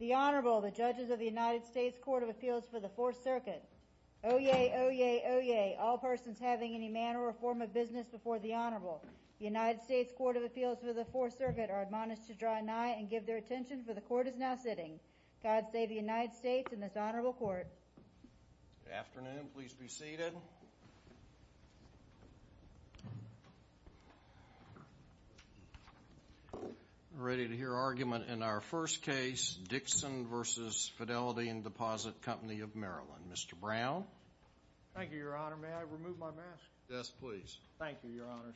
The Honorable, the Judges of the United States Court of Appeals for the Fourth Circuit. Oyez, oyez, oyez, all persons having any manner or form of business before the Honorable. The United States Court of Appeals for the Fourth Circuit are admonished to draw nigh and give their attention, for the Court is now sitting. God save the United States and this Honorable Court. Good afternoon. Please be seated. Ready to hear argument in our first case, Dickson v. Fidelity and Deposit Company of Maryland. Mr. Brown. Thank you, Your Honor. May I remove my mask? Yes, please. Thank you, Your Honors.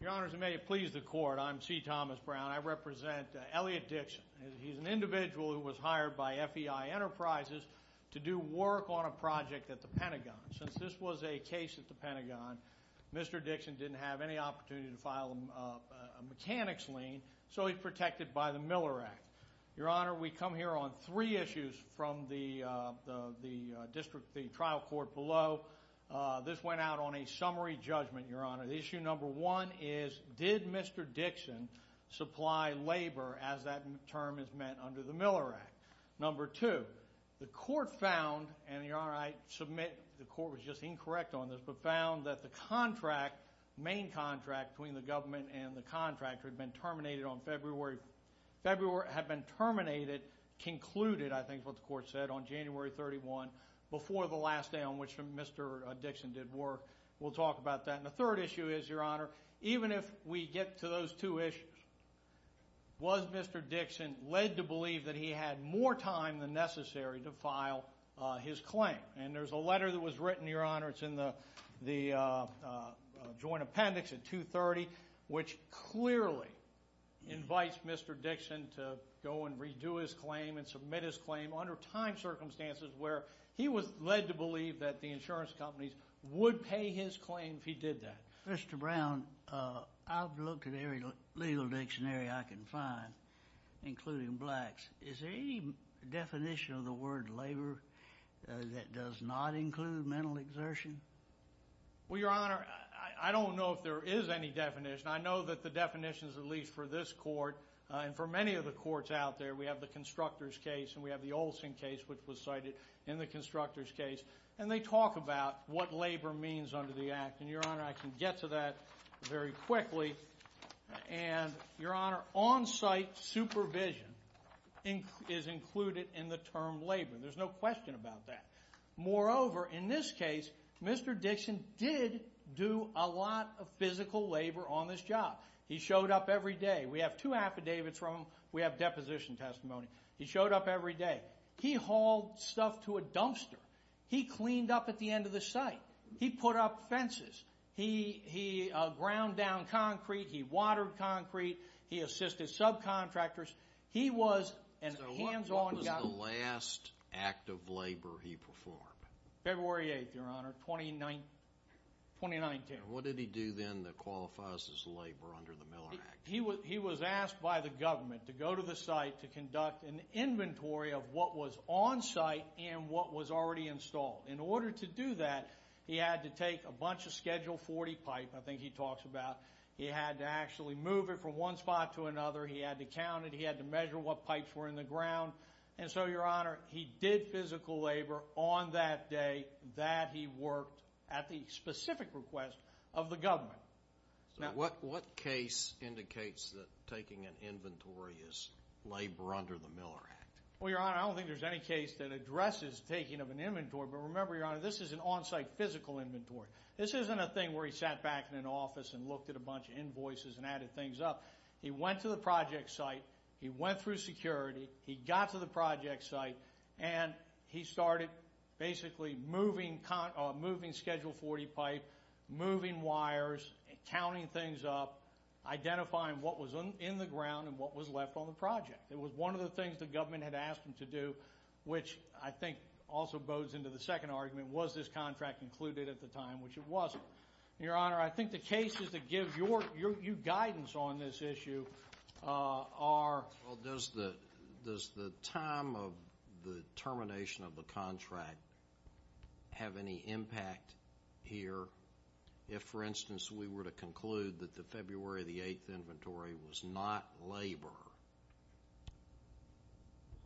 Your Honors, and may it please the Court, I'm C. Thomas Brown. I represent Elliot Dickson. He's an individual who was hired by FEI Enterprises to do work on a project at the Pentagon. Since this was a case at the Pentagon, Mr. Dickson didn't have any opportunity to file a mechanics lien, so he's protected by the Miller Act. Your Honor, we come here on three issues from the district, the trial court below. This went out on a summary judgment, Your Honor. The issue number one is, did Mr. Dickson supply labor as that term is meant under the Miller Act? Number two, the Court found, and Your Honor, I submit the Court was just incorrect on this, but found that the main contract between the government and the contractor had been terminated on February. February had been terminated, concluded, I think is what the Court said, on January 31, before the last day on which Mr. Dickson did work. We'll talk about that. And the third issue is, Your Honor, even if we get to those two issues, was Mr. Dickson led to believe that he had more time than necessary to file his claim? And there's a letter that was written, Your Honor, it's in the Joint Appendix at 230, which clearly invites Mr. Dickson to go and redo his claim and submit his claim under timed circumstances where he was led to believe that the insurance companies would pay his claim if he did that. Mr. Brown, I've looked at every legal dictionary I can find, including blacks. Is there any definition of the word labor that does not include mental exertion? Well, Your Honor, I don't know if there is any definition. I know that the definitions, at least for this Court and for many of the courts out there, we have the Constructors' case and we have the Olson case, which was cited in the Constructors' case, and they talk about what labor means under the Act. And, Your Honor, I can get to that very quickly. And, Your Honor, on-site supervision is included in the term labor. There's no question about that. Moreover, in this case, Mr. Dickson did do a lot of physical labor on this job. He showed up every day. We have two affidavits from him. We have deposition testimony. He showed up every day. He hauled stuff to a dumpster. He cleaned up at the end of the site. He put up fences. He ground down concrete. He watered concrete. He assisted subcontractors. He was a hands-on guy. So what was the last act of labor he performed? February 8th, Your Honor, 2019. And what did he do then that qualifies as labor under the Miller Act? He was asked by the government to go to the site to conduct an inventory of what was on-site and what was already installed. In order to do that, he had to take a bunch of Schedule 40 pipe, I think he talks about. He had to actually move it from one spot to another. He had to count it. He had to measure what pipes were in the ground. And so, Your Honor, he did physical labor on that day that he worked at the specific request of the government. What case indicates that taking an inventory is labor under the Miller Act? Well, Your Honor, I don't think there's any case that addresses taking of an inventory. But remember, Your Honor, this is an on-site physical inventory. This isn't a thing where he sat back in an office and looked at a bunch of invoices and added things up. He went to the project site. He went through security. He got to the project site. And he started basically moving Schedule 40 pipe, moving wires, counting things up, identifying what was in the ground and what was left on the project. It was one of the things the government had asked him to do, which I think also bodes into the second argument, was this contract included at the time, which it wasn't. Your Honor, I think the cases that give you guidance on this issue are— Well, does the time of the termination of the contract have any impact here? If, for instance, we were to conclude that the February 8th inventory was not labor,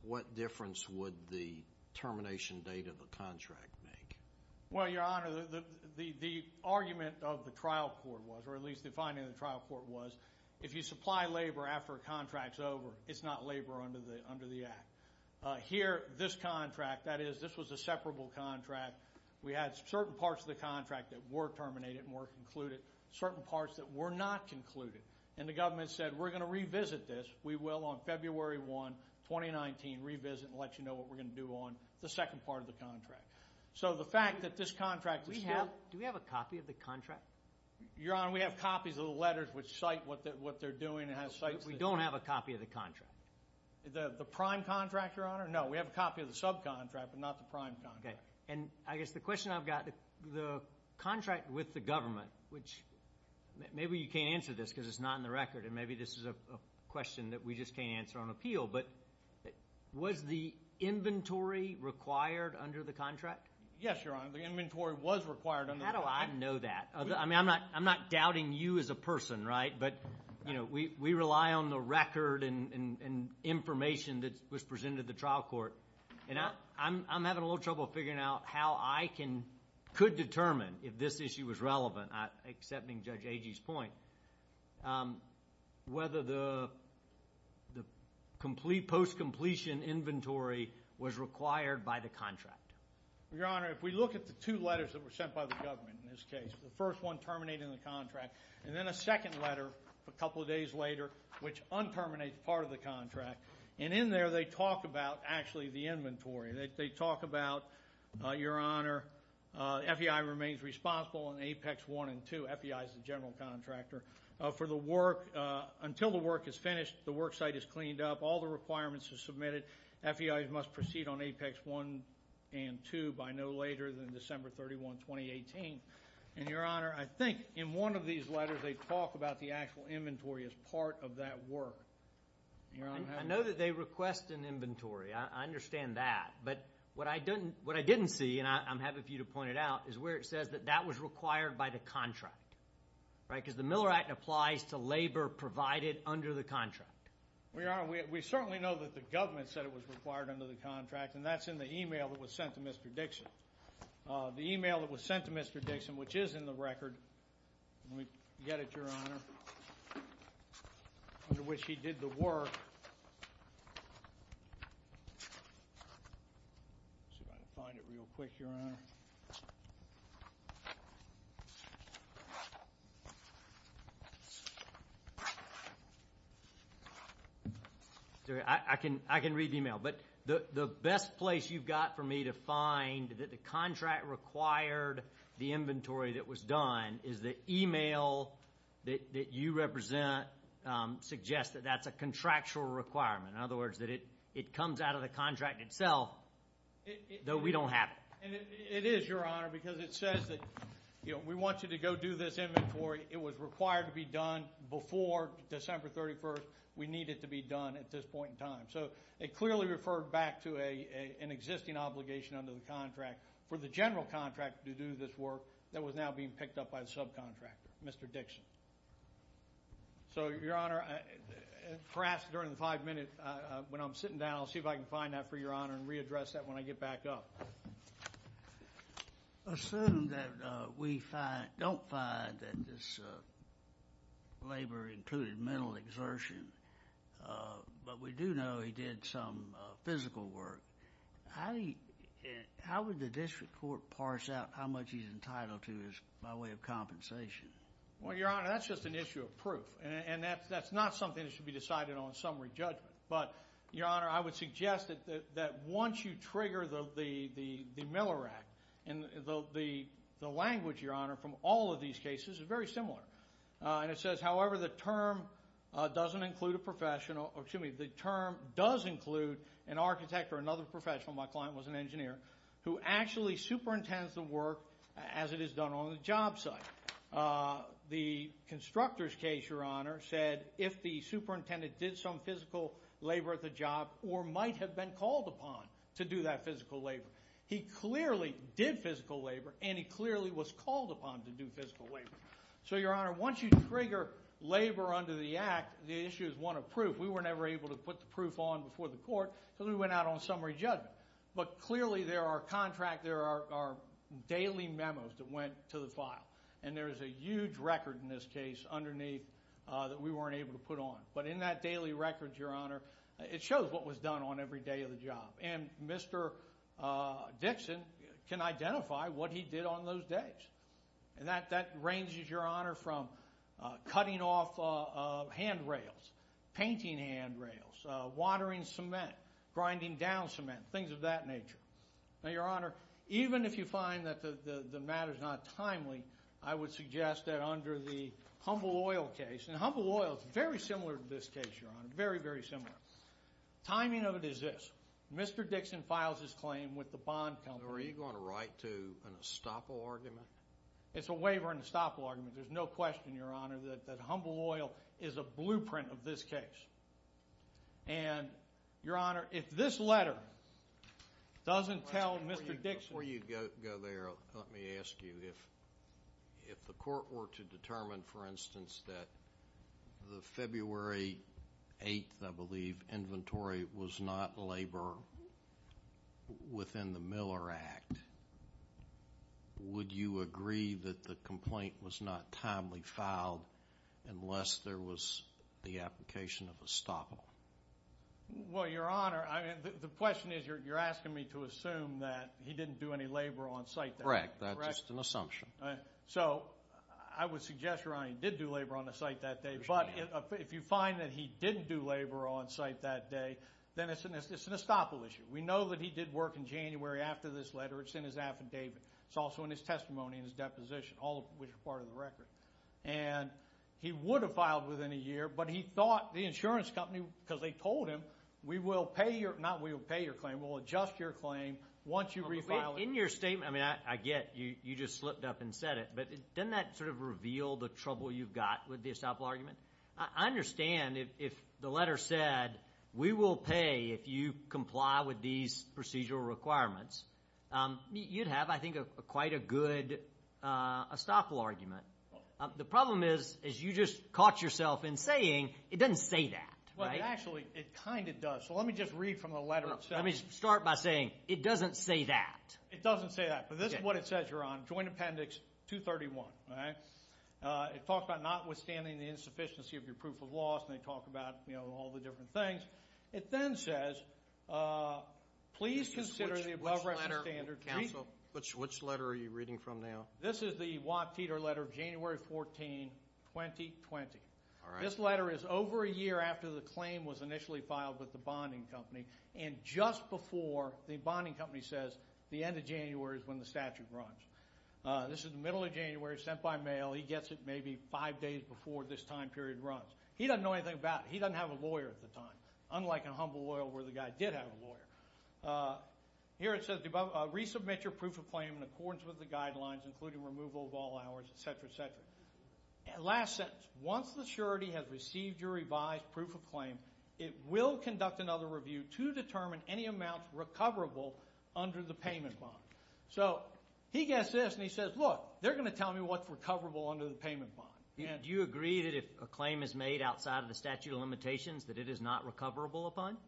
what difference would the termination date of the contract make? Well, Your Honor, the argument of the trial court was, or at least the finding of the trial court was, if you supply labor after a contract's over, it's not labor under the Act. Here, this contract, that is, this was a separable contract. We had certain parts of the contract that were terminated and were concluded, certain parts that were not concluded. And the government said, we're going to revisit this. We will on February 1, 2019, revisit and let you know what we're going to do on the second part of the contract. So the fact that this contract is still— Do we have a copy of the contract? Your Honor, we have copies of the letters which cite what they're doing. We don't have a copy of the contract. The prime contract, Your Honor? No, we have a copy of the subcontract, but not the prime contract. And I guess the question I've got, the contract with the government, which maybe you can't answer this because it's not in the record, and maybe this is a question that we just can't answer on appeal, but was the inventory required under the contract? Yes, Your Honor, the inventory was required under the contract. How do I know that? I mean, I'm not doubting you as a person, right? But we rely on the record and information that was presented to the trial court. And I'm having a little trouble figuring out how I could determine if this issue was relevant, accepting Judge Agee's point, whether the post-completion inventory was required by the contract. Your Honor, if we look at the two letters that were sent by the government in this case, the first one terminating the contract, and then a second letter a couple of days later which un-terminates part of the contract, and in there they talk about actually the inventory. They talk about, Your Honor, FEI remains responsible in Apex 1 and 2. FEI is the general contractor. Until the work is finished, the worksite is cleaned up, all the requirements are submitted. FEI must proceed on Apex 1 and 2 by no later than December 31, 2018. And, Your Honor, I think in one of these letters they talk about the actual inventory as part of that work. I know that they request an inventory. I understand that. But what I didn't see, and I'm happy for you to point it out, is where it says that that was required by the contract, right? Because the Miller Act applies to labor provided under the contract. Well, Your Honor, we certainly know that the government said it was required under the contract, and that's in the email that was sent to Mr. Dixon. The email that was sent to Mr. Dixon, which is in the record, under which he did the work. I'm just going to find it real quick, Your Honor. I can read the email. But the best place you've got for me to find that the contract required the inventory that was done is the email that you represent suggests that that's a contractual requirement. In other words, that it comes out of the contract itself, though we don't have it. It is, Your Honor, because it says that we want you to go do this inventory. It was required to be done before December 31. We need it to be done at this point in time. So it clearly referred back to an existing obligation under the contract for the general contractor to do this work that was now being picked up by the subcontractor, Mr. Dixon. So, Your Honor, perhaps during the five minutes when I'm sitting down, I'll see if I can find that for Your Honor and readdress that when I get back up. Assume that we don't find that this labor included mental exertion, but we do know he did some physical work. How would the district court parse out how much he's entitled to by way of compensation? Well, Your Honor, that's just an issue of proof. And that's not something that should be decided on summary judgment. But, Your Honor, I would suggest that once you trigger the Miller Act, the language, Your Honor, from all of these cases is very similar. And it says, however, the term doesn't include a professional. Excuse me. The term does include an architect or another professional. My client was an engineer who actually superintends the work as it is done on the job site. The constructor's case, Your Honor, said if the superintendent did some physical labor at the job or might have been called upon to do that physical labor. He clearly did physical labor, and he clearly was called upon to do physical labor. So, Your Honor, once you trigger labor under the act, the issue is one of proof. We were never able to put the proof on before the court because we went out on summary judgment. But clearly there are contract, there are daily memos that went to the file, and there is a huge record in this case underneath that we weren't able to put on. But in that daily record, Your Honor, it shows what was done on every day of the job. And Mr. Dixon can identify what he did on those days. And that ranges, Your Honor, from cutting off handrails, painting handrails, watering cement, grinding down cement, things of that nature. Now, Your Honor, even if you find that the matter is not timely, I would suggest that under the Humble Oil case, and Humble Oil is very similar to this case, Your Honor, very, very similar. Timing of it is this. Mr. Dixon files his claim with the bond company. Are you going to write to an estoppel argument? It's a waiver and estoppel argument. There's no question, Your Honor, that Humble Oil is a blueprint of this case. And, Your Honor, if this letter doesn't tell Mr. Dixon— Before you go there, let me ask you, if the court were to determine, for instance, that the February 8th, I believe, inventory was not labor within the Miller Act, would you agree that the complaint was not timely filed unless there was the application of estoppel? Well, Your Honor, the question is you're asking me to assume that he didn't do any labor on site. Correct. That's just an assumption. So I would suggest, Your Honor, he did do labor on the site that day. But if you find that he didn't do labor on site that day, then it's an estoppel issue. We know that he did work in January after this letter. It's in his affidavit. It's also in his testimony and his deposition, all of which are part of the record. And he would have filed within a year, but he thought the insurance company, because they told him, we will pay your—not we will pay your claim, we will adjust your claim once you refile it. In your statement, I mean, I get you just slipped up and said it, but doesn't that sort of reveal the trouble you've got with the estoppel argument? I understand if the letter said we will pay if you comply with these procedural requirements. You'd have, I think, quite a good estoppel argument. The problem is you just caught yourself in saying it doesn't say that. Well, actually, it kind of does. So let me just read from the letter itself. Let me start by saying it doesn't say that. It doesn't say that, but this is what it says here on Joint Appendix 231. It talks about notwithstanding the insufficiency of your proof of loss, and they talk about, you know, all the different things. It then says, please consider the above reference standard. Which letter are you reading from now? This is the Watt-Teter letter of January 14, 2020. This letter is over a year after the claim was initially filed with the bonding company, and just before the bonding company says the end of January is when the statute runs. This is the middle of January, sent by mail. He gets it maybe five days before this time period runs. He doesn't know anything about it. He doesn't have a lawyer at the time, unlike in Humble Oil where the guy did have a lawyer. Here it says resubmit your proof of claim in accordance with the guidelines, including removal of all hours, et cetera, et cetera. Last sentence, once the surety has received your revised proof of claim, it will conduct another review to determine any amounts recoverable under the payment bond. So he gets this and he says, look, they're going to tell me what's recoverable under the payment bond. Do you agree that if a claim is made outside of the statute of limitations that it is not recoverable upon?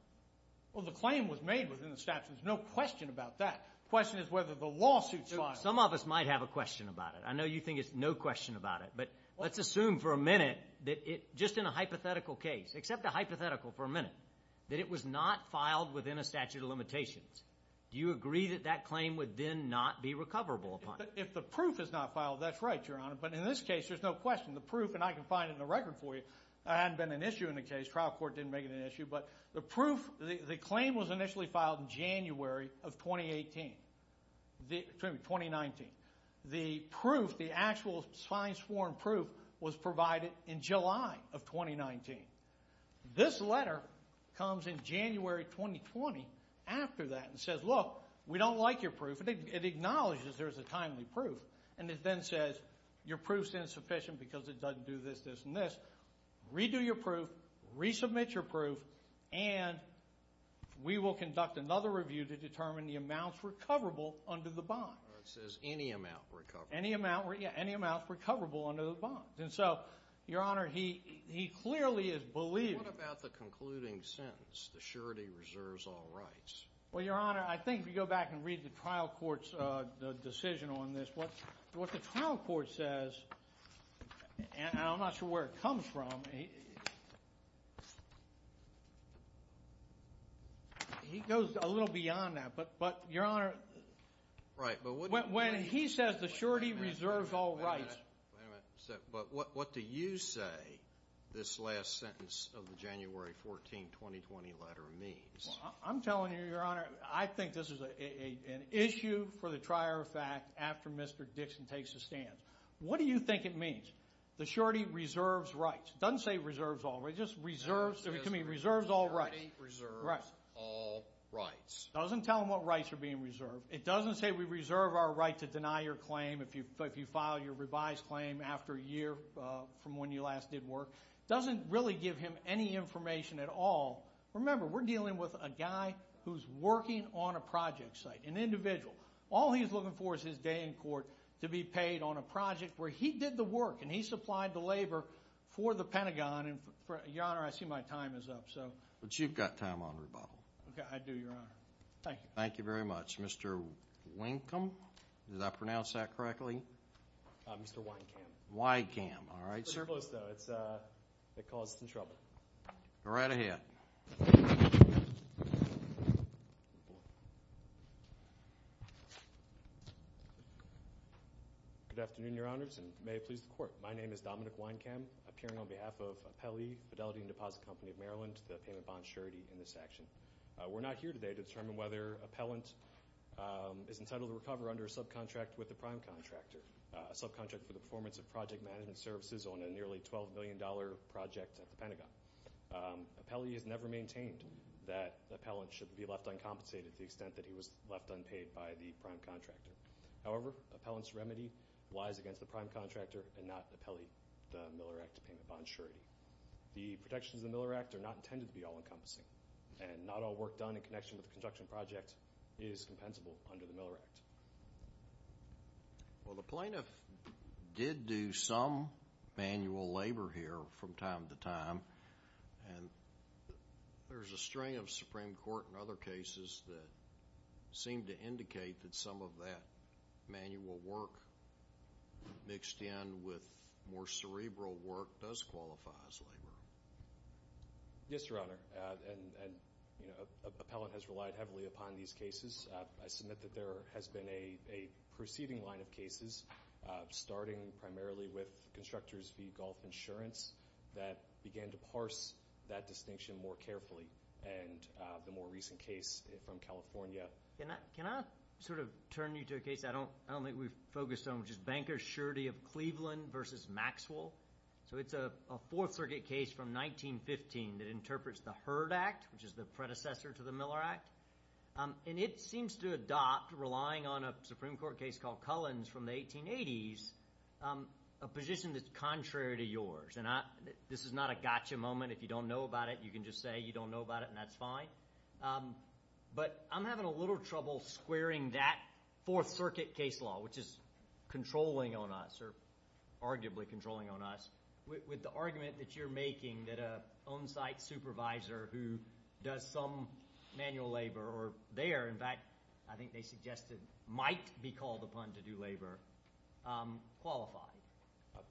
Well, the claim was made within the statute. There's no question about that. The question is whether the lawsuit's filed. Some of us might have a question about it. I know you think there's no question about it, but let's assume for a minute that just in a hypothetical case, except a hypothetical for a minute, that it was not filed within a statute of limitations. Do you agree that that claim would then not be recoverable upon? If the proof is not filed, that's right, Your Honor. But in this case, there's no question. The proof, and I can find it in the record for you. It hadn't been an issue in the case. Trial court didn't make it an issue. But the proof, the claim was initially filed in January of 2018, excuse me, 2019. The proof, the actual sign-sworn proof was provided in July of 2019. This letter comes in January 2020 after that and says, look, we don't like your proof. It acknowledges there's a timely proof. And it then says your proof's insufficient because it doesn't do this, this, and this. Redo your proof. Resubmit your proof. And we will conduct another review to determine the amounts recoverable under the bond. It says any amount recoverable. Any amount, yeah, any amount recoverable under the bond. And so, Your Honor, he clearly is believing. What about the concluding sentence, the surety reserves all rights? Well, Your Honor, I think if you go back and read the trial court's decision on this, what the trial court says, and I'm not sure where it comes from, he goes a little beyond that. But, Your Honor, when he says the surety reserves all rights. Wait a minute. But what do you say this last sentence of the January 14, 2020 letter means? I'm telling you, Your Honor, I think this is an issue for the trier of fact after Mr. Dixon takes the stand. What do you think it means? The surety reserves rights. It doesn't say reserves all rights. It just reserves, I mean, reserves all rights. The surety reserves all rights. It doesn't tell him what rights are being reserved. It doesn't say we reserve our right to deny your claim if you file your revised claim after a year from when you last did work. It doesn't really give him any information at all. Remember, we're dealing with a guy who's working on a project site, an individual. All he's looking for is his day in court to be paid on a project where he did the work and he supplied the labor for the Pentagon. Your Honor, I see my time is up. But you've got time on rebuttal. Okay, I do, Your Honor. Thank you. Thank you very much. Mr. Winkum, did I pronounce that correctly? Mr. Weinkam. Weinkam, all right, sir. It's pretty close, though. It caused some trouble. Go right ahead. Good afternoon, Your Honors, and may it please the Court. My name is Dominic Weinkam, appearing on behalf of Appellee Fidelity and Deposit Company of Maryland, the payment bond surety in this action. We're not here today to determine whether appellant is entitled to recover under a subcontract with the prime contractor, a subcontract for the performance of project management services on a nearly $12 million project at the Pentagon. Appellee has never maintained that the appellant should be left uncompensated to the extent that he was left unpaid by the prime contractor. However, appellant's remedy lies against the prime contractor and not the Miller Act payment bond surety. The protections of the Miller Act are not intended to be all-encompassing, and not all work done in connection with the construction project is compensable under the Miller Act. Well, the plaintiff did do some manual labor here from time to time, and there's a strain of Supreme Court and other cases that seem to indicate that some of that manual work mixed in with more cerebral work does qualify as labor. Yes, Your Honor, and, you know, appellant has relied heavily upon these cases. I submit that there has been a preceding line of cases, starting primarily with constructors v. Golf Insurance, that began to parse that distinction more carefully, and the more recent case from California. Can I sort of turn you to a case I don't think we've focused on, which is Banker's Surety of Cleveland v. Maxwell? So it's a Fourth Circuit case from 1915 that interprets the Heard Act, which is the predecessor to the Miller Act, and it seems to adopt, relying on a Supreme Court case called Cullen's from the 1880s, a position that's contrary to yours. And this is not a gotcha moment. If you don't know about it, you can just say you don't know about it, and that's fine. But I'm having a little trouble squaring that Fourth Circuit case law, which is controlling on us, or arguably controlling on us, with the argument that you're making that an on-site supervisor who does some manual labor, or there, in fact, I think they suggested might be called upon to do labor, qualifies.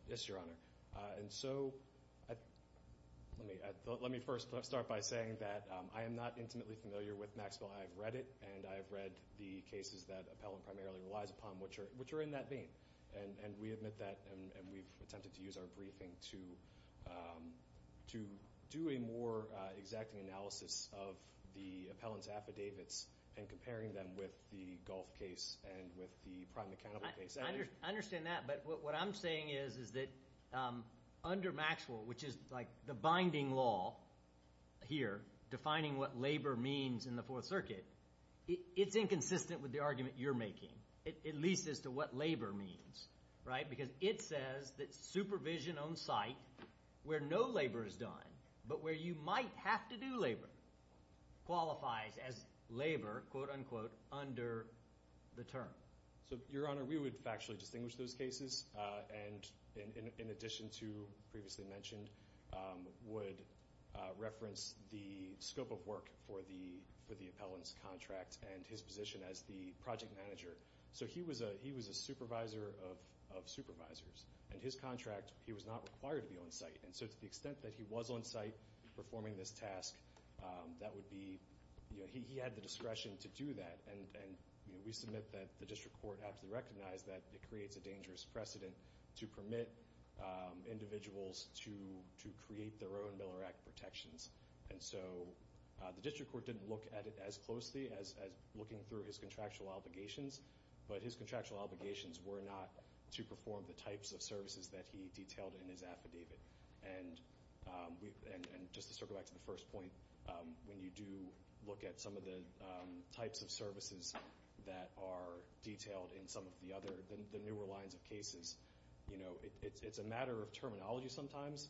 Yes, Your Honor. And so let me first start by saying that I am not intimately familiar with Maxwell. I have read it, and I have read the cases that Appellant primarily relies upon, which are in that vein. And we admit that, and we've attempted to use our briefing to do a more exacting analysis of the Appellant's affidavits and comparing them with the Gulf case and with the prime accountable case. I understand that, but what I'm saying is that under Maxwell, which is like the binding law here, defining what labor means in the Fourth Circuit, it's inconsistent with the argument you're making, at least as to what labor means, right? Because it says that supervision on site where no labor is done, but where you might have to do labor, qualifies as labor, quote, unquote, under the term. So, Your Honor, we would factually distinguish those cases, and in addition to previously mentioned, would reference the scope of work for the Appellant's contract and his position as the project manager. So he was a supervisor of supervisors, and his contract, he was not required to be on site. And so to the extent that he was on site performing this task, that would be, you know, he had the discretion to do that. And we submit that the district court aptly recognized that it creates a dangerous precedent to permit individuals to create their own Miller Act protections. And so the district court didn't look at it as closely as looking through his contractual obligations, but his contractual obligations were not to perform the types of services that he detailed in his affidavit. And just to circle back to the first point, when you do look at some of the types of services that are detailed in some of the newer lines of cases, you know, it's a matter of terminology sometimes,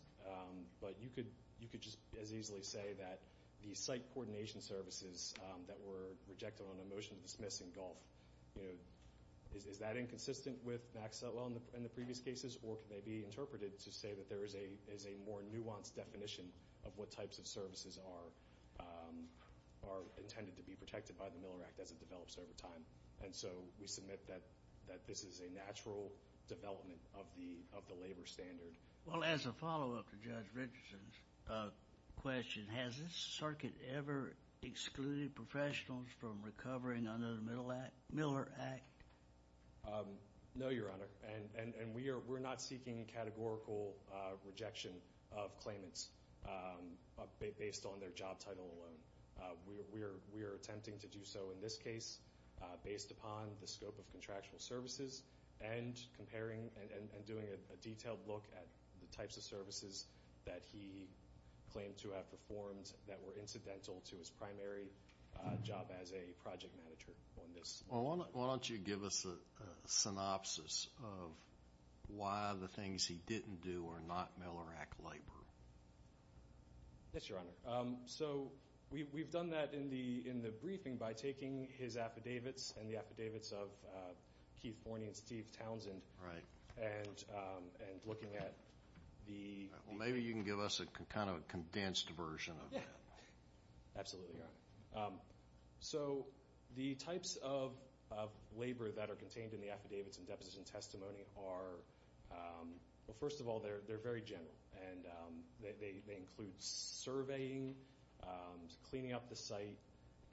but you could just as easily say that the site coordination services that were rejected on a motion to dismiss in Gulf, you know, is that inconsistent with NACSA law in the previous cases, or can they be interpreted to say that there is a more nuanced definition of what types of services are intended to be protected by the Miller Act as it develops over time? And so we submit that this is a natural development of the labor standard. Well, as a follow-up to Judge Richardson's question, has this circuit ever excluded professionals from recovering under the Miller Act? No, Your Honor. And we are not seeking a categorical rejection of claimants based on their job title alone. We are attempting to do so in this case based upon the scope of contractual services and comparing and doing a detailed look at the types of services that he claimed to have performed that were incidental to his primary job as a project manager on this. Well, why don't you give us a synopsis of why the things he didn't do are not Miller Act labor? Yes, Your Honor. Sure. So we've done that in the briefing by taking his affidavits and the affidavits of Keith Forney and Steve Townsend. Right. And looking at the- Well, maybe you can give us a kind of a condensed version of that. Absolutely, Your Honor. So the types of labor that are contained in the affidavits and deposition testimony are, well, first of all, they're very general, and they include surveying, cleaning up the site,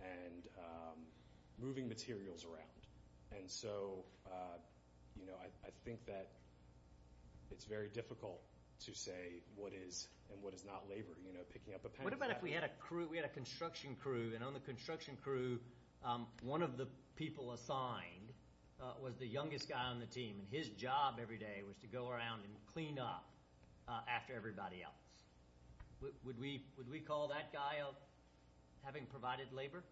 and moving materials around. And so, you know, I think that it's very difficult to say what is and what is not labor, you know, picking up a pen. What about if we had a crew, we had a construction crew, and on the construction crew one of the people assigned was the youngest guy on the team, and his job every day was to go around and clean up after everybody else. Would we call that guy having provided labor?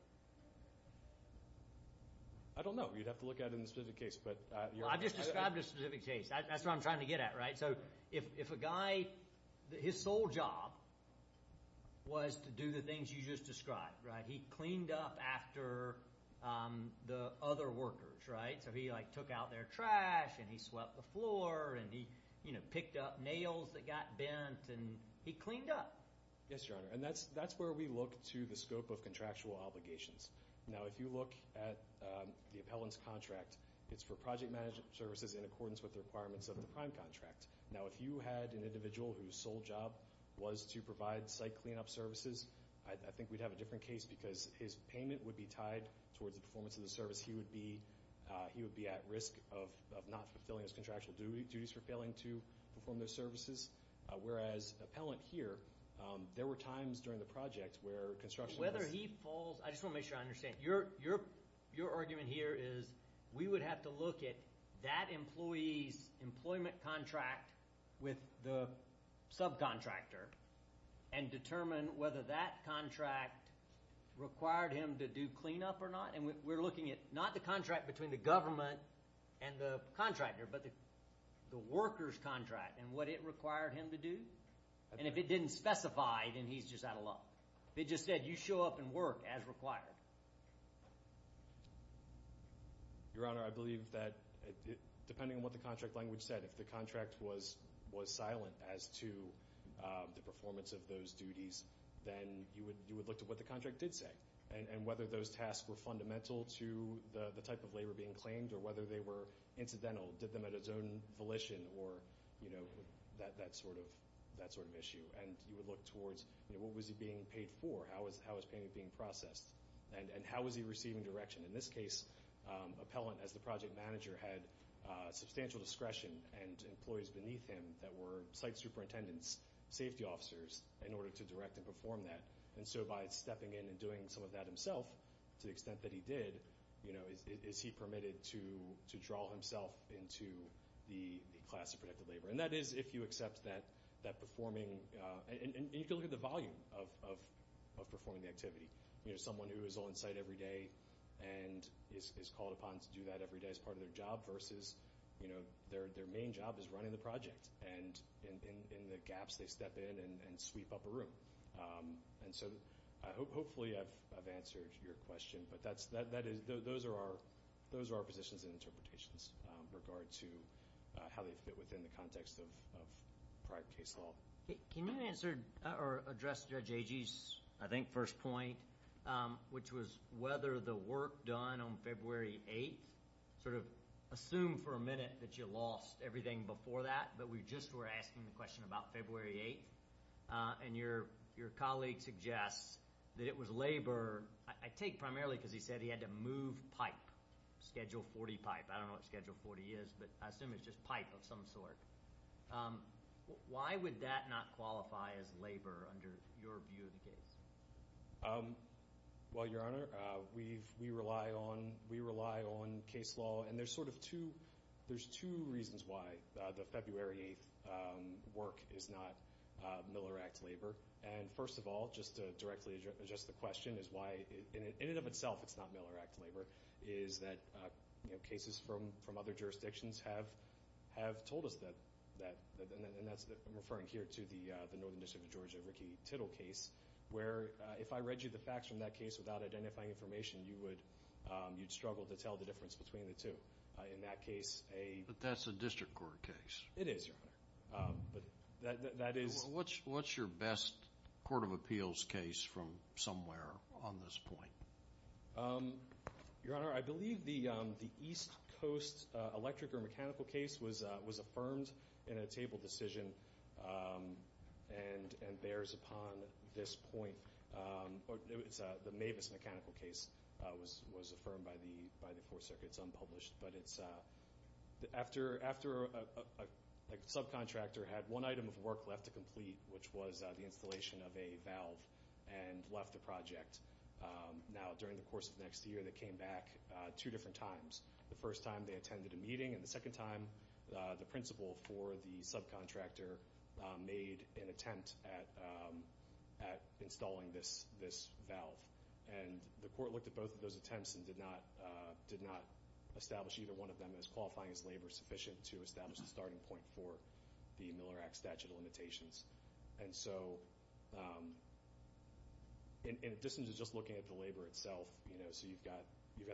I don't know. You'd have to look at it in the specific case, but- Well, I just described a specific case. That's what I'm trying to get at, right? So if a guy – his sole job was to do the things you just described, right? He cleaned up after the other workers, right? So he, like, took out their trash, and he swept the floor, and he, you know, picked up nails that got bent, and he cleaned up. Yes, Your Honor, and that's where we look to the scope of contractual obligations. Now, if you look at the appellant's contract, it's for project management services in accordance with the requirements of the prime contract. Now, if you had an individual whose sole job was to provide site cleanup services, I think we'd have a different case because his payment would be tied towards the performance of the service. He would be at risk of not fulfilling his contractual duties for failing to perform those services. Whereas the appellant here, there were times during the project where construction was- Whether he falls – I just want to make sure I understand. Your argument here is we would have to look at that employee's employment contract with the subcontractor and determine whether that contract required him to do cleanup or not. And we're looking at not the contract between the government and the contractor, but the worker's contract and what it required him to do. And if it didn't specify, then he's just out of luck. If it just said you show up and work as required. Your Honor, I believe that depending on what the contract language said, if the contract was silent as to the performance of those duties, then you would look to what the contract did say and whether those tasks were fundamental to the type of labor being claimed or whether they were incidental, did them at his own volition, or that sort of issue. And you would look towards what was he being paid for, how was payment being processed, and how was he receiving direction. In this case, appellant as the project manager had substantial discretion and employees beneath him that were site superintendents, safety officers, in order to direct and perform that. And so by stepping in and doing some of that himself, to the extent that he did, is he permitted to draw himself into the class of protected labor? And that is if you accept that performing – and you can look at the volume of performing the activity. Someone who is on site every day and is called upon to do that every day as part of their job versus their main job is running the project, and in the gaps they step in and sweep up a room. And so hopefully I've answered your question, but those are our positions and interpretations with regard to how they fit within the context of private case law. Can you address Judge Agee's, I think, first point, which was whether the work done on February 8th – sort of assume for a minute that you lost everything before that, but we just were asking the question about February 8th, and your colleague suggests that it was labor. I take primarily because he said he had to move pipe, Schedule 40 pipe. I don't know what Schedule 40 is, but I assume it's just pipe of some sort. Why would that not qualify as labor under your view of the case? Well, Your Honor, we rely on case law. And there's sort of two – there's two reasons why the February 8th work is not Miller Act labor. And first of all, just to directly address the question, is why in and of itself it's not Miller Act labor, is that cases from other jurisdictions have told us that – and that's referring here to the Northern District of Georgia Ricky Tittle case, where if I read you the facts from that case without identifying information, you would – you'd struggle to tell the difference between the two. In that case, a – But that's a district court case. It is, Your Honor. But that is – What's your best court of appeals case from somewhere on this point? Your Honor, I believe the East Coast electric or mechanical case was affirmed in a table decision and bears upon this point. The Mavis mechanical case was affirmed by the court circuit. It's unpublished. But it's after a subcontractor had one item of work left to complete, which was the installation of a valve, and left the project. Now, during the course of next year, they came back two different times. The first time they attended a meeting, and the second time the principal for the subcontractor made an attempt at installing this valve. And the court looked at both of those attempts and did not establish either one of them as qualifying as labor sufficient to establish a starting point for the Miller Act statute of limitations. And so, in addition to just looking at the labor itself, you know,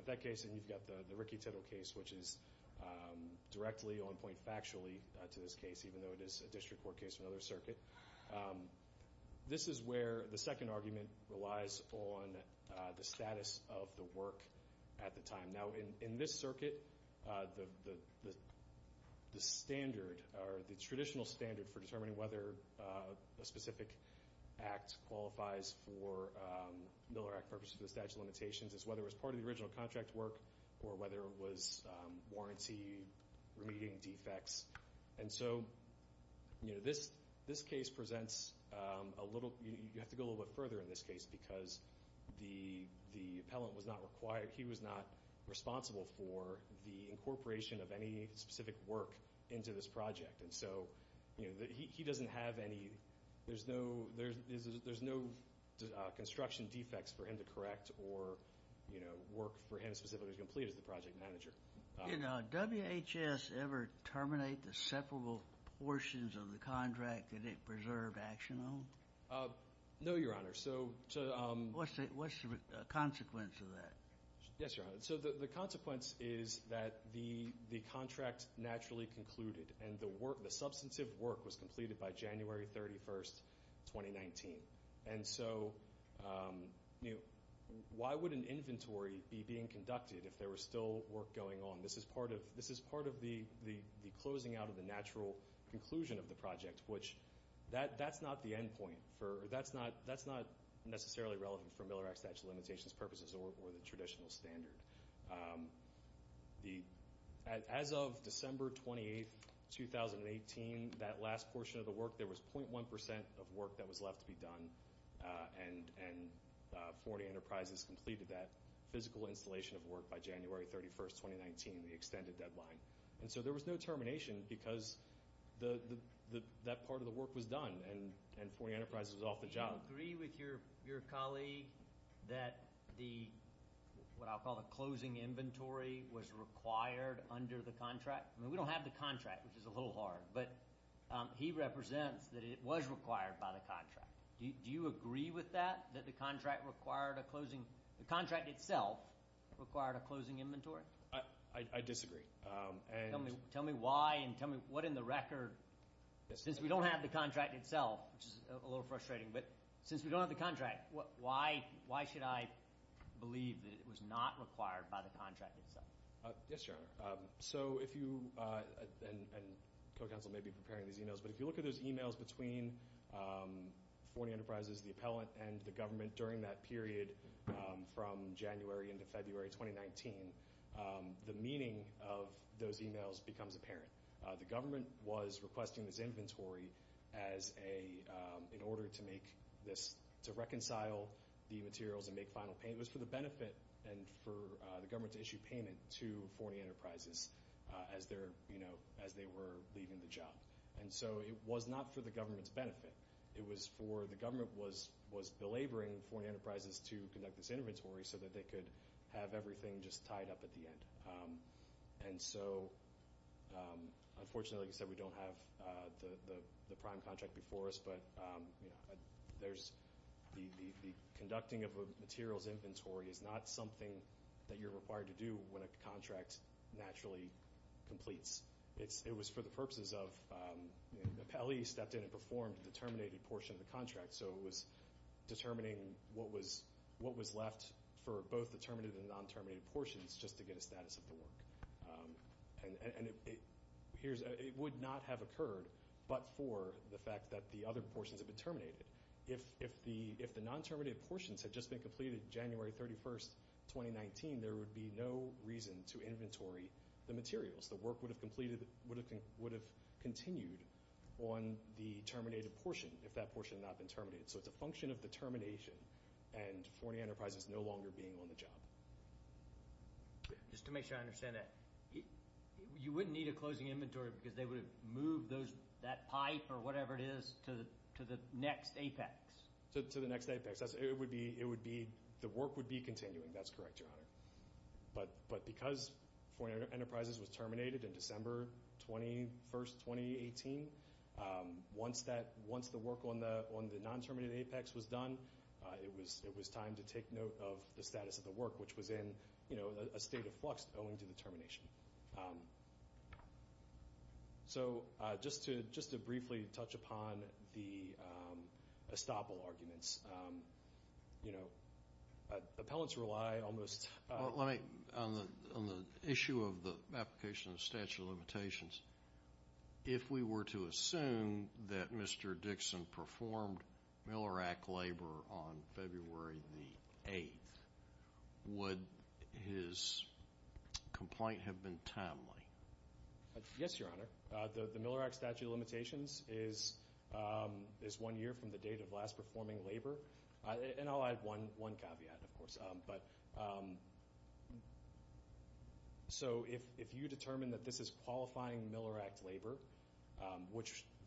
the Ricky Tittle case, which is directly on point factually to this case, even though it is a district court case from another circuit. This is where the second argument relies on the status of the work at the time. Now, in this circuit, the standard, or the traditional standard, for determining whether a specific act qualifies for Miller Act purposes for the statute of limitations is whether it was part of the original contract work or whether it was warranty remediating defects. And so, you know, this case presents a little— you have to go a little bit further in this case because the appellant was not required— he was not responsible for the incorporation of any specific work into this project. And so, you know, he doesn't have any— there's no construction defects for him to correct or, you know, work for him specifically to complete as the project manager. Did WHS ever terminate the separable portions of the contract that it preserved action on? No, Your Honor. Yes, Your Honor. So the consequence is that the contract naturally concluded, and the substantive work was completed by January 31, 2019. And so, you know, why would an inventory be being conducted if there was still work going on? This is part of the closing out of the natural conclusion of the project, which that's not the end point for— As of December 28, 2018, that last portion of the work, there was 0.1 percent of work that was left to be done, and Forty Enterprises completed that physical installation of work by January 31, 2019, the extended deadline. And so there was no termination because that part of the work was done, and Forty Enterprises was off the job. Do you agree with your colleague that the—what I'll call the closing inventory was required under the contract? I mean, we don't have the contract, which is a little hard, but he represents that it was required by the contract. Do you agree with that, that the contract required a closing—the contract itself required a closing inventory? I disagree. Tell me why and tell me what in the record— Since we don't have the contract itself, which is a little frustrating, but since we don't have the contract, why should I believe that it was not required by the contract itself? Yes, Your Honor. So if you—and co-counsel may be preparing these emails, but if you look at those emails between Forty Enterprises, the appellant, and the government during that period from January into February 2019, the meaning of those emails becomes apparent. The government was requesting this inventory as a—in order to make this—to reconcile the materials and make final payment. It was for the benefit and for the government to issue payment to Forty Enterprises as they were leaving the job. And so it was not for the government's benefit. It was for—the government was belaboring Forty Enterprises to conduct this inventory so that they could have everything just tied up at the end. And so, unfortunately, like I said, we don't have the prime contract before us, but there's—the conducting of a materials inventory is not something that you're required to do when a contract naturally completes. It was for the purposes of—the appellee stepped in and performed the terminated portion of the contract, so it was determining what was left for both the terminated and non-terminated portions just to get a status of the work. And it would not have occurred but for the fact that the other portions had been terminated. If the non-terminated portions had just been completed January 31, 2019, there would be no reason to inventory the materials. The work would have continued on the terminated portion if that portion had not been terminated. So it's a function of determination and Forty Enterprises no longer being on the job. Just to make sure I understand that, you wouldn't need a closing inventory because they would have moved that pipe or whatever it is to the next apex? To the next apex. It would be—the work would be continuing. That's correct, Your Honor. But because Forty Enterprises was terminated in December 21, 2018, once the work on the non-terminated apex was done, it was time to take note of the status of the work, which was in a state of flux owing to the termination. So just to briefly touch upon the estoppel arguments. You know, appellants rely almost— On the issue of the application of statute of limitations, if we were to assume that Mr. Dixon performed Miller Act labor on February the 8th, would his complaint have been timely? Yes, Your Honor. The Miller Act statute of limitations is one year from the date of last performing labor. And I'll add one caveat, of course. So if you determine that this is qualifying Miller Act labor,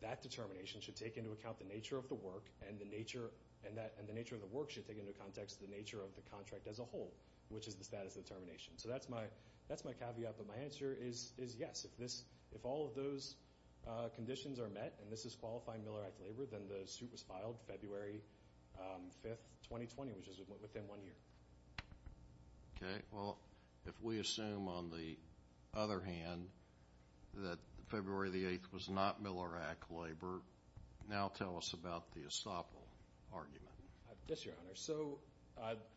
that determination should take into account the nature of the work, and the nature of the work should take into context the nature of the contract as a whole, which is the status of the termination. So that's my caveat, but my answer is yes. If all of those conditions are met and this is qualifying Miller Act labor, then the suit was filed February 5, 2020, which is within one year. Okay. Well, if we assume, on the other hand, that February the 8th was not Miller Act labor, now tell us about the estoppel argument. Yes, Your Honor. So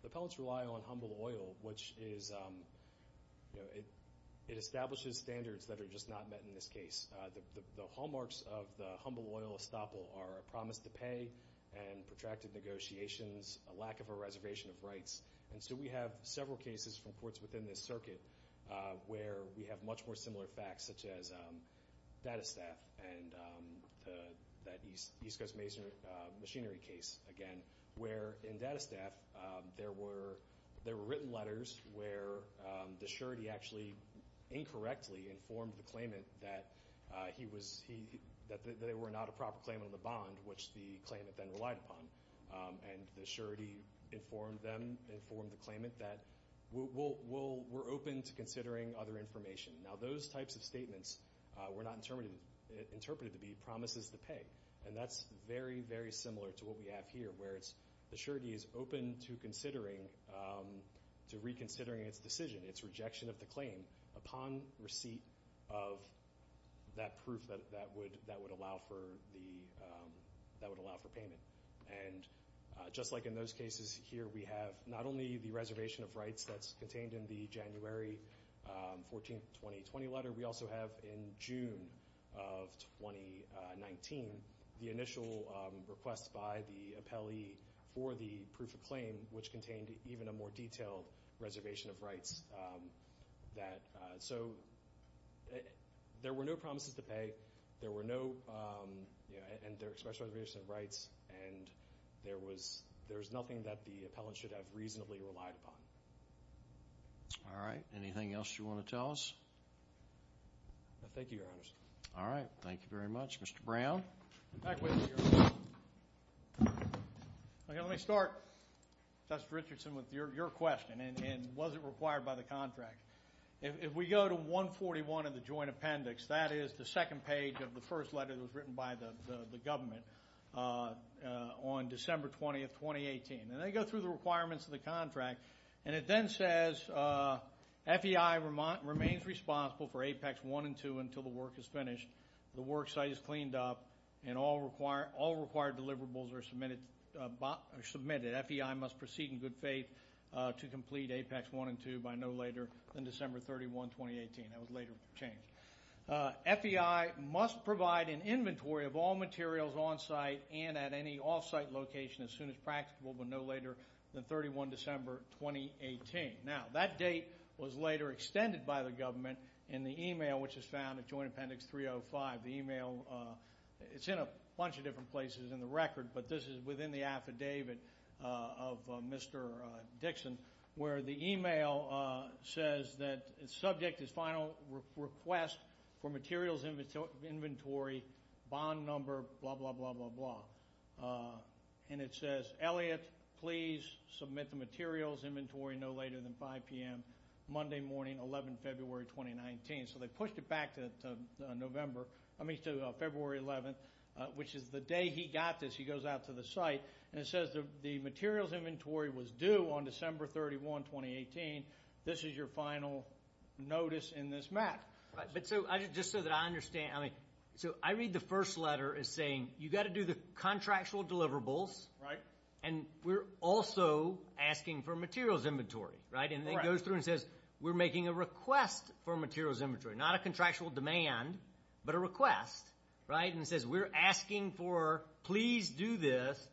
appellants rely on humble oil, which is—it establishes standards that are just not met in this case. The hallmarks of the humble oil estoppel are a promise to pay and protracted negotiations, a lack of a reservation of rights. And so we have several cases from courts within this circuit where we have much more similar facts, such as Datastaff and that East Coast Machinery case, again, where in Datastaff there were written letters where the surety actually incorrectly informed the claimant that they were not a proper claimant of the bond, which the claimant then relied upon. And the surety informed them, informed the claimant that we're open to considering other information. Now, those types of statements were not interpreted to be promises to pay. And that's very, very similar to what we have here, where the surety is open to reconsidering its decision, its rejection of the claim, upon receipt of that proof that would allow for payment. And just like in those cases here, we have not only the reservation of rights that's contained in the January 14, 2020 letter, we also have in June of 2019 the initial request by the appellee for the proof of claim, which contained even a more detailed reservation of rights that— and there was nothing that the appellant should have reasonably relied upon. All right. Anything else you want to tell us? Thank you, Your Honors. All right. Thank you very much. Mr. Brown? Let me start, Justice Richardson, with your question, and was it required by the contract. If we go to 141 of the joint appendix, that is the second page of the first letter that was written by the government, on December 20, 2018. And they go through the requirements of the contract, and it then says, FEI remains responsible for Apex 1 and 2 until the work is finished, the worksite is cleaned up, and all required deliverables are submitted. FEI must proceed in good faith to complete Apex 1 and 2 by no later than December 31, 2018. That was later changed. FEI must provide an inventory of all materials on-site and at any off-site location as soon as practicable but no later than December 31, 2018. Now, that date was later extended by the government in the email which is found in Joint Appendix 305. The email—it's in a bunch of different places in the record, but this is within the affidavit of Mr. Dixon, where the email says that the subject is final request for materials inventory, bond number, blah, blah, blah, blah, blah. And it says, Elliot, please submit the materials inventory no later than 5 p.m., Monday morning, 11 February 2019. So they pushed it back to February 11, which is the day he got this. He goes out to the site, and it says the materials inventory was due on December 31, 2018. This is your final notice in this map. But so just so that I understand, I mean, so I read the first letter as saying you've got to do the contractual deliverables. Right. And we're also asking for materials inventory, right? Correct. And it goes through and says we're making a request for materials inventory, not a contractual demand, but a request, right? And it says we're asking for please do this.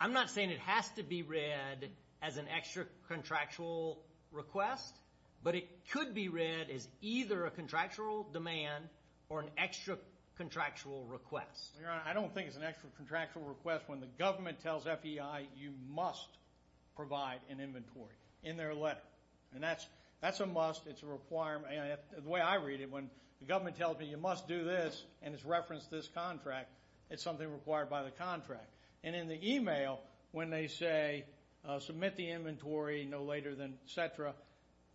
I'm not saying it has to be read as an extra contractual request, but it could be read as either a contractual demand or an extra contractual request. Your Honor, I don't think it's an extra contractual request when the government tells FEI you must provide an inventory in their letter. And that's a must. It's a requirement. The way I read it, when the government tells me you must do this and it's referenced this contract, it's something required by the contract. And in the email, when they say submit the inventory no later than et cetera,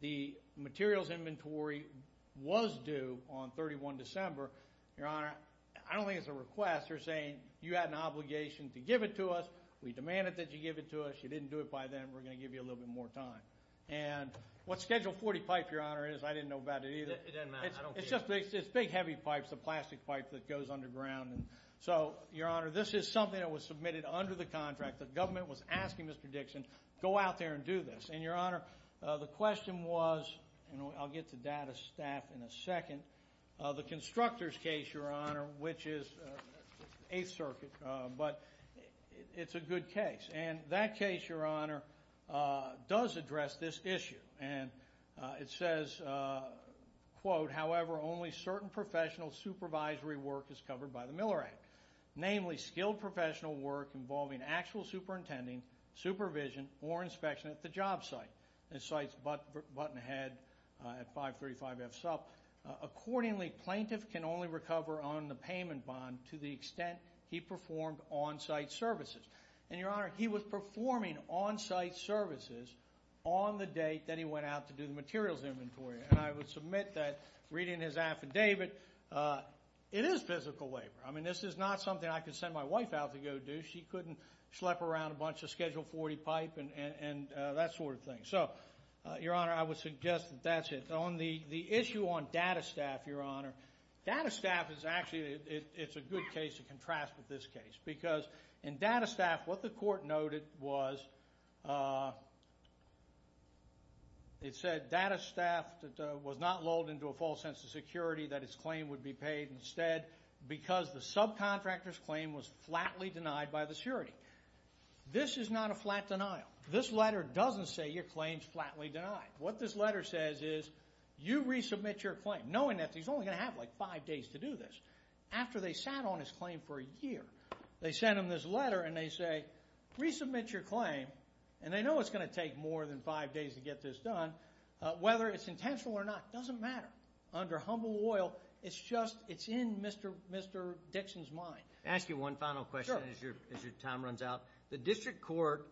the materials inventory was due on 31 December. Your Honor, I don't think it's a request. They're saying you had an obligation to give it to us. We demanded that you give it to us. You didn't do it by then. We're going to give you a little bit more time. And what Schedule 40 pipe, Your Honor, is, I didn't know about it either. It doesn't matter. I don't care. It's big heavy pipes, the plastic pipe that goes underground. So, Your Honor, this is something that was submitted under the contract. The government was asking Mr. Dixon go out there and do this. And, Your Honor, the question was, and I'll get to data staff in a second, the constructors case, Your Honor, which is 8th Circuit. But it's a good case. And that case, Your Honor, does address this issue. And it says, quote, however, only certain professional supervisory work is covered by the Miller Act, namely skilled professional work involving actual superintending, supervision, or inspection at the job site. It cites Buttonhead at 535F Supp. Accordingly, plaintiff can only recover on the payment bond to the extent he performed on-site services. And, Your Honor, he was performing on-site services on the date that he went out to do the materials inventory. And I would submit that, reading his affidavit, it is physical labor. I mean, this is not something I could send my wife out to go do. She couldn't schlep around a bunch of Schedule 40 pipe and that sort of thing. So, Your Honor, I would suggest that that's it. On the issue on data staff, Your Honor, data staff is actually, it's a good case to contrast with this case. Because in data staff, what the court noted was it said data staff was not lulled into a false sense of security that its claim would be paid instead because the subcontractor's claim was flatly denied by the security. This is not a flat denial. This letter doesn't say your claim is flatly denied. What this letter says is you resubmit your claim, knowing that he's only going to have like five days to do this. After they sat on his claim for a year, they sent him this letter and they say, resubmit your claim. And they know it's going to take more than five days to get this done. Whether it's intentional or not doesn't matter. Under humble oil, it's just, it's in Mr. Dixon's mind. I'll ask you one final question as your time runs out. The district court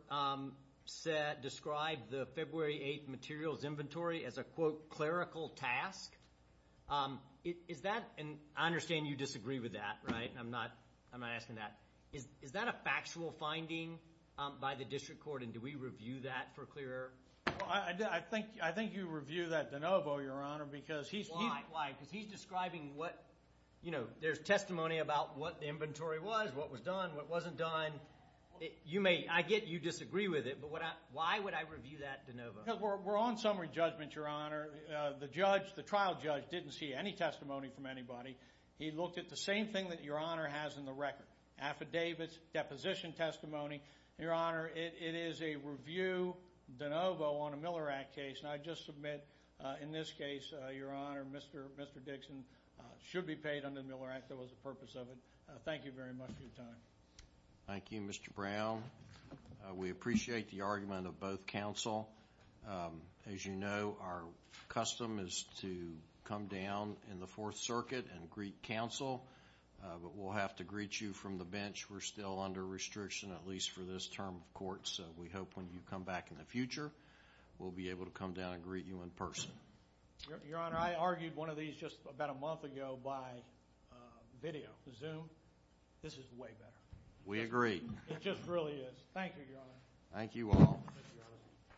described the February 8th materials inventory as a, quote, clerical task. Is that, and I understand you disagree with that, right? I'm not asking that. Is that a factual finding by the district court and do we review that for clearer? I think you review that de novo, Your Honor, because he's describing what, you know, there's testimony about what the inventory was, what was done, what wasn't done. You may, I get you disagree with it, but why would I review that de novo? Because we're on summary judgment, Your Honor. The judge, the trial judge didn't see any testimony from anybody. He looked at the same thing that Your Honor has in the record, affidavits, deposition testimony. Your Honor, it is a review de novo on a Miller Act case. And I just submit in this case, Your Honor, Mr. Dixon should be paid under the Miller Act. That was the purpose of it. Thank you very much for your time. Thank you, Mr. Brown. We appreciate the argument of both counsel. As you know, our custom is to come down in the Fourth Circuit and greet counsel. But we'll have to greet you from the bench. We're still under restriction, at least for this term of court. So we hope when you come back in the future, we'll be able to come down and greet you in person. Your Honor, I argued one of these just about a month ago by video, Zoom. This is way better. We agree. It just really is. Thank you, Your Honor. Thank you all.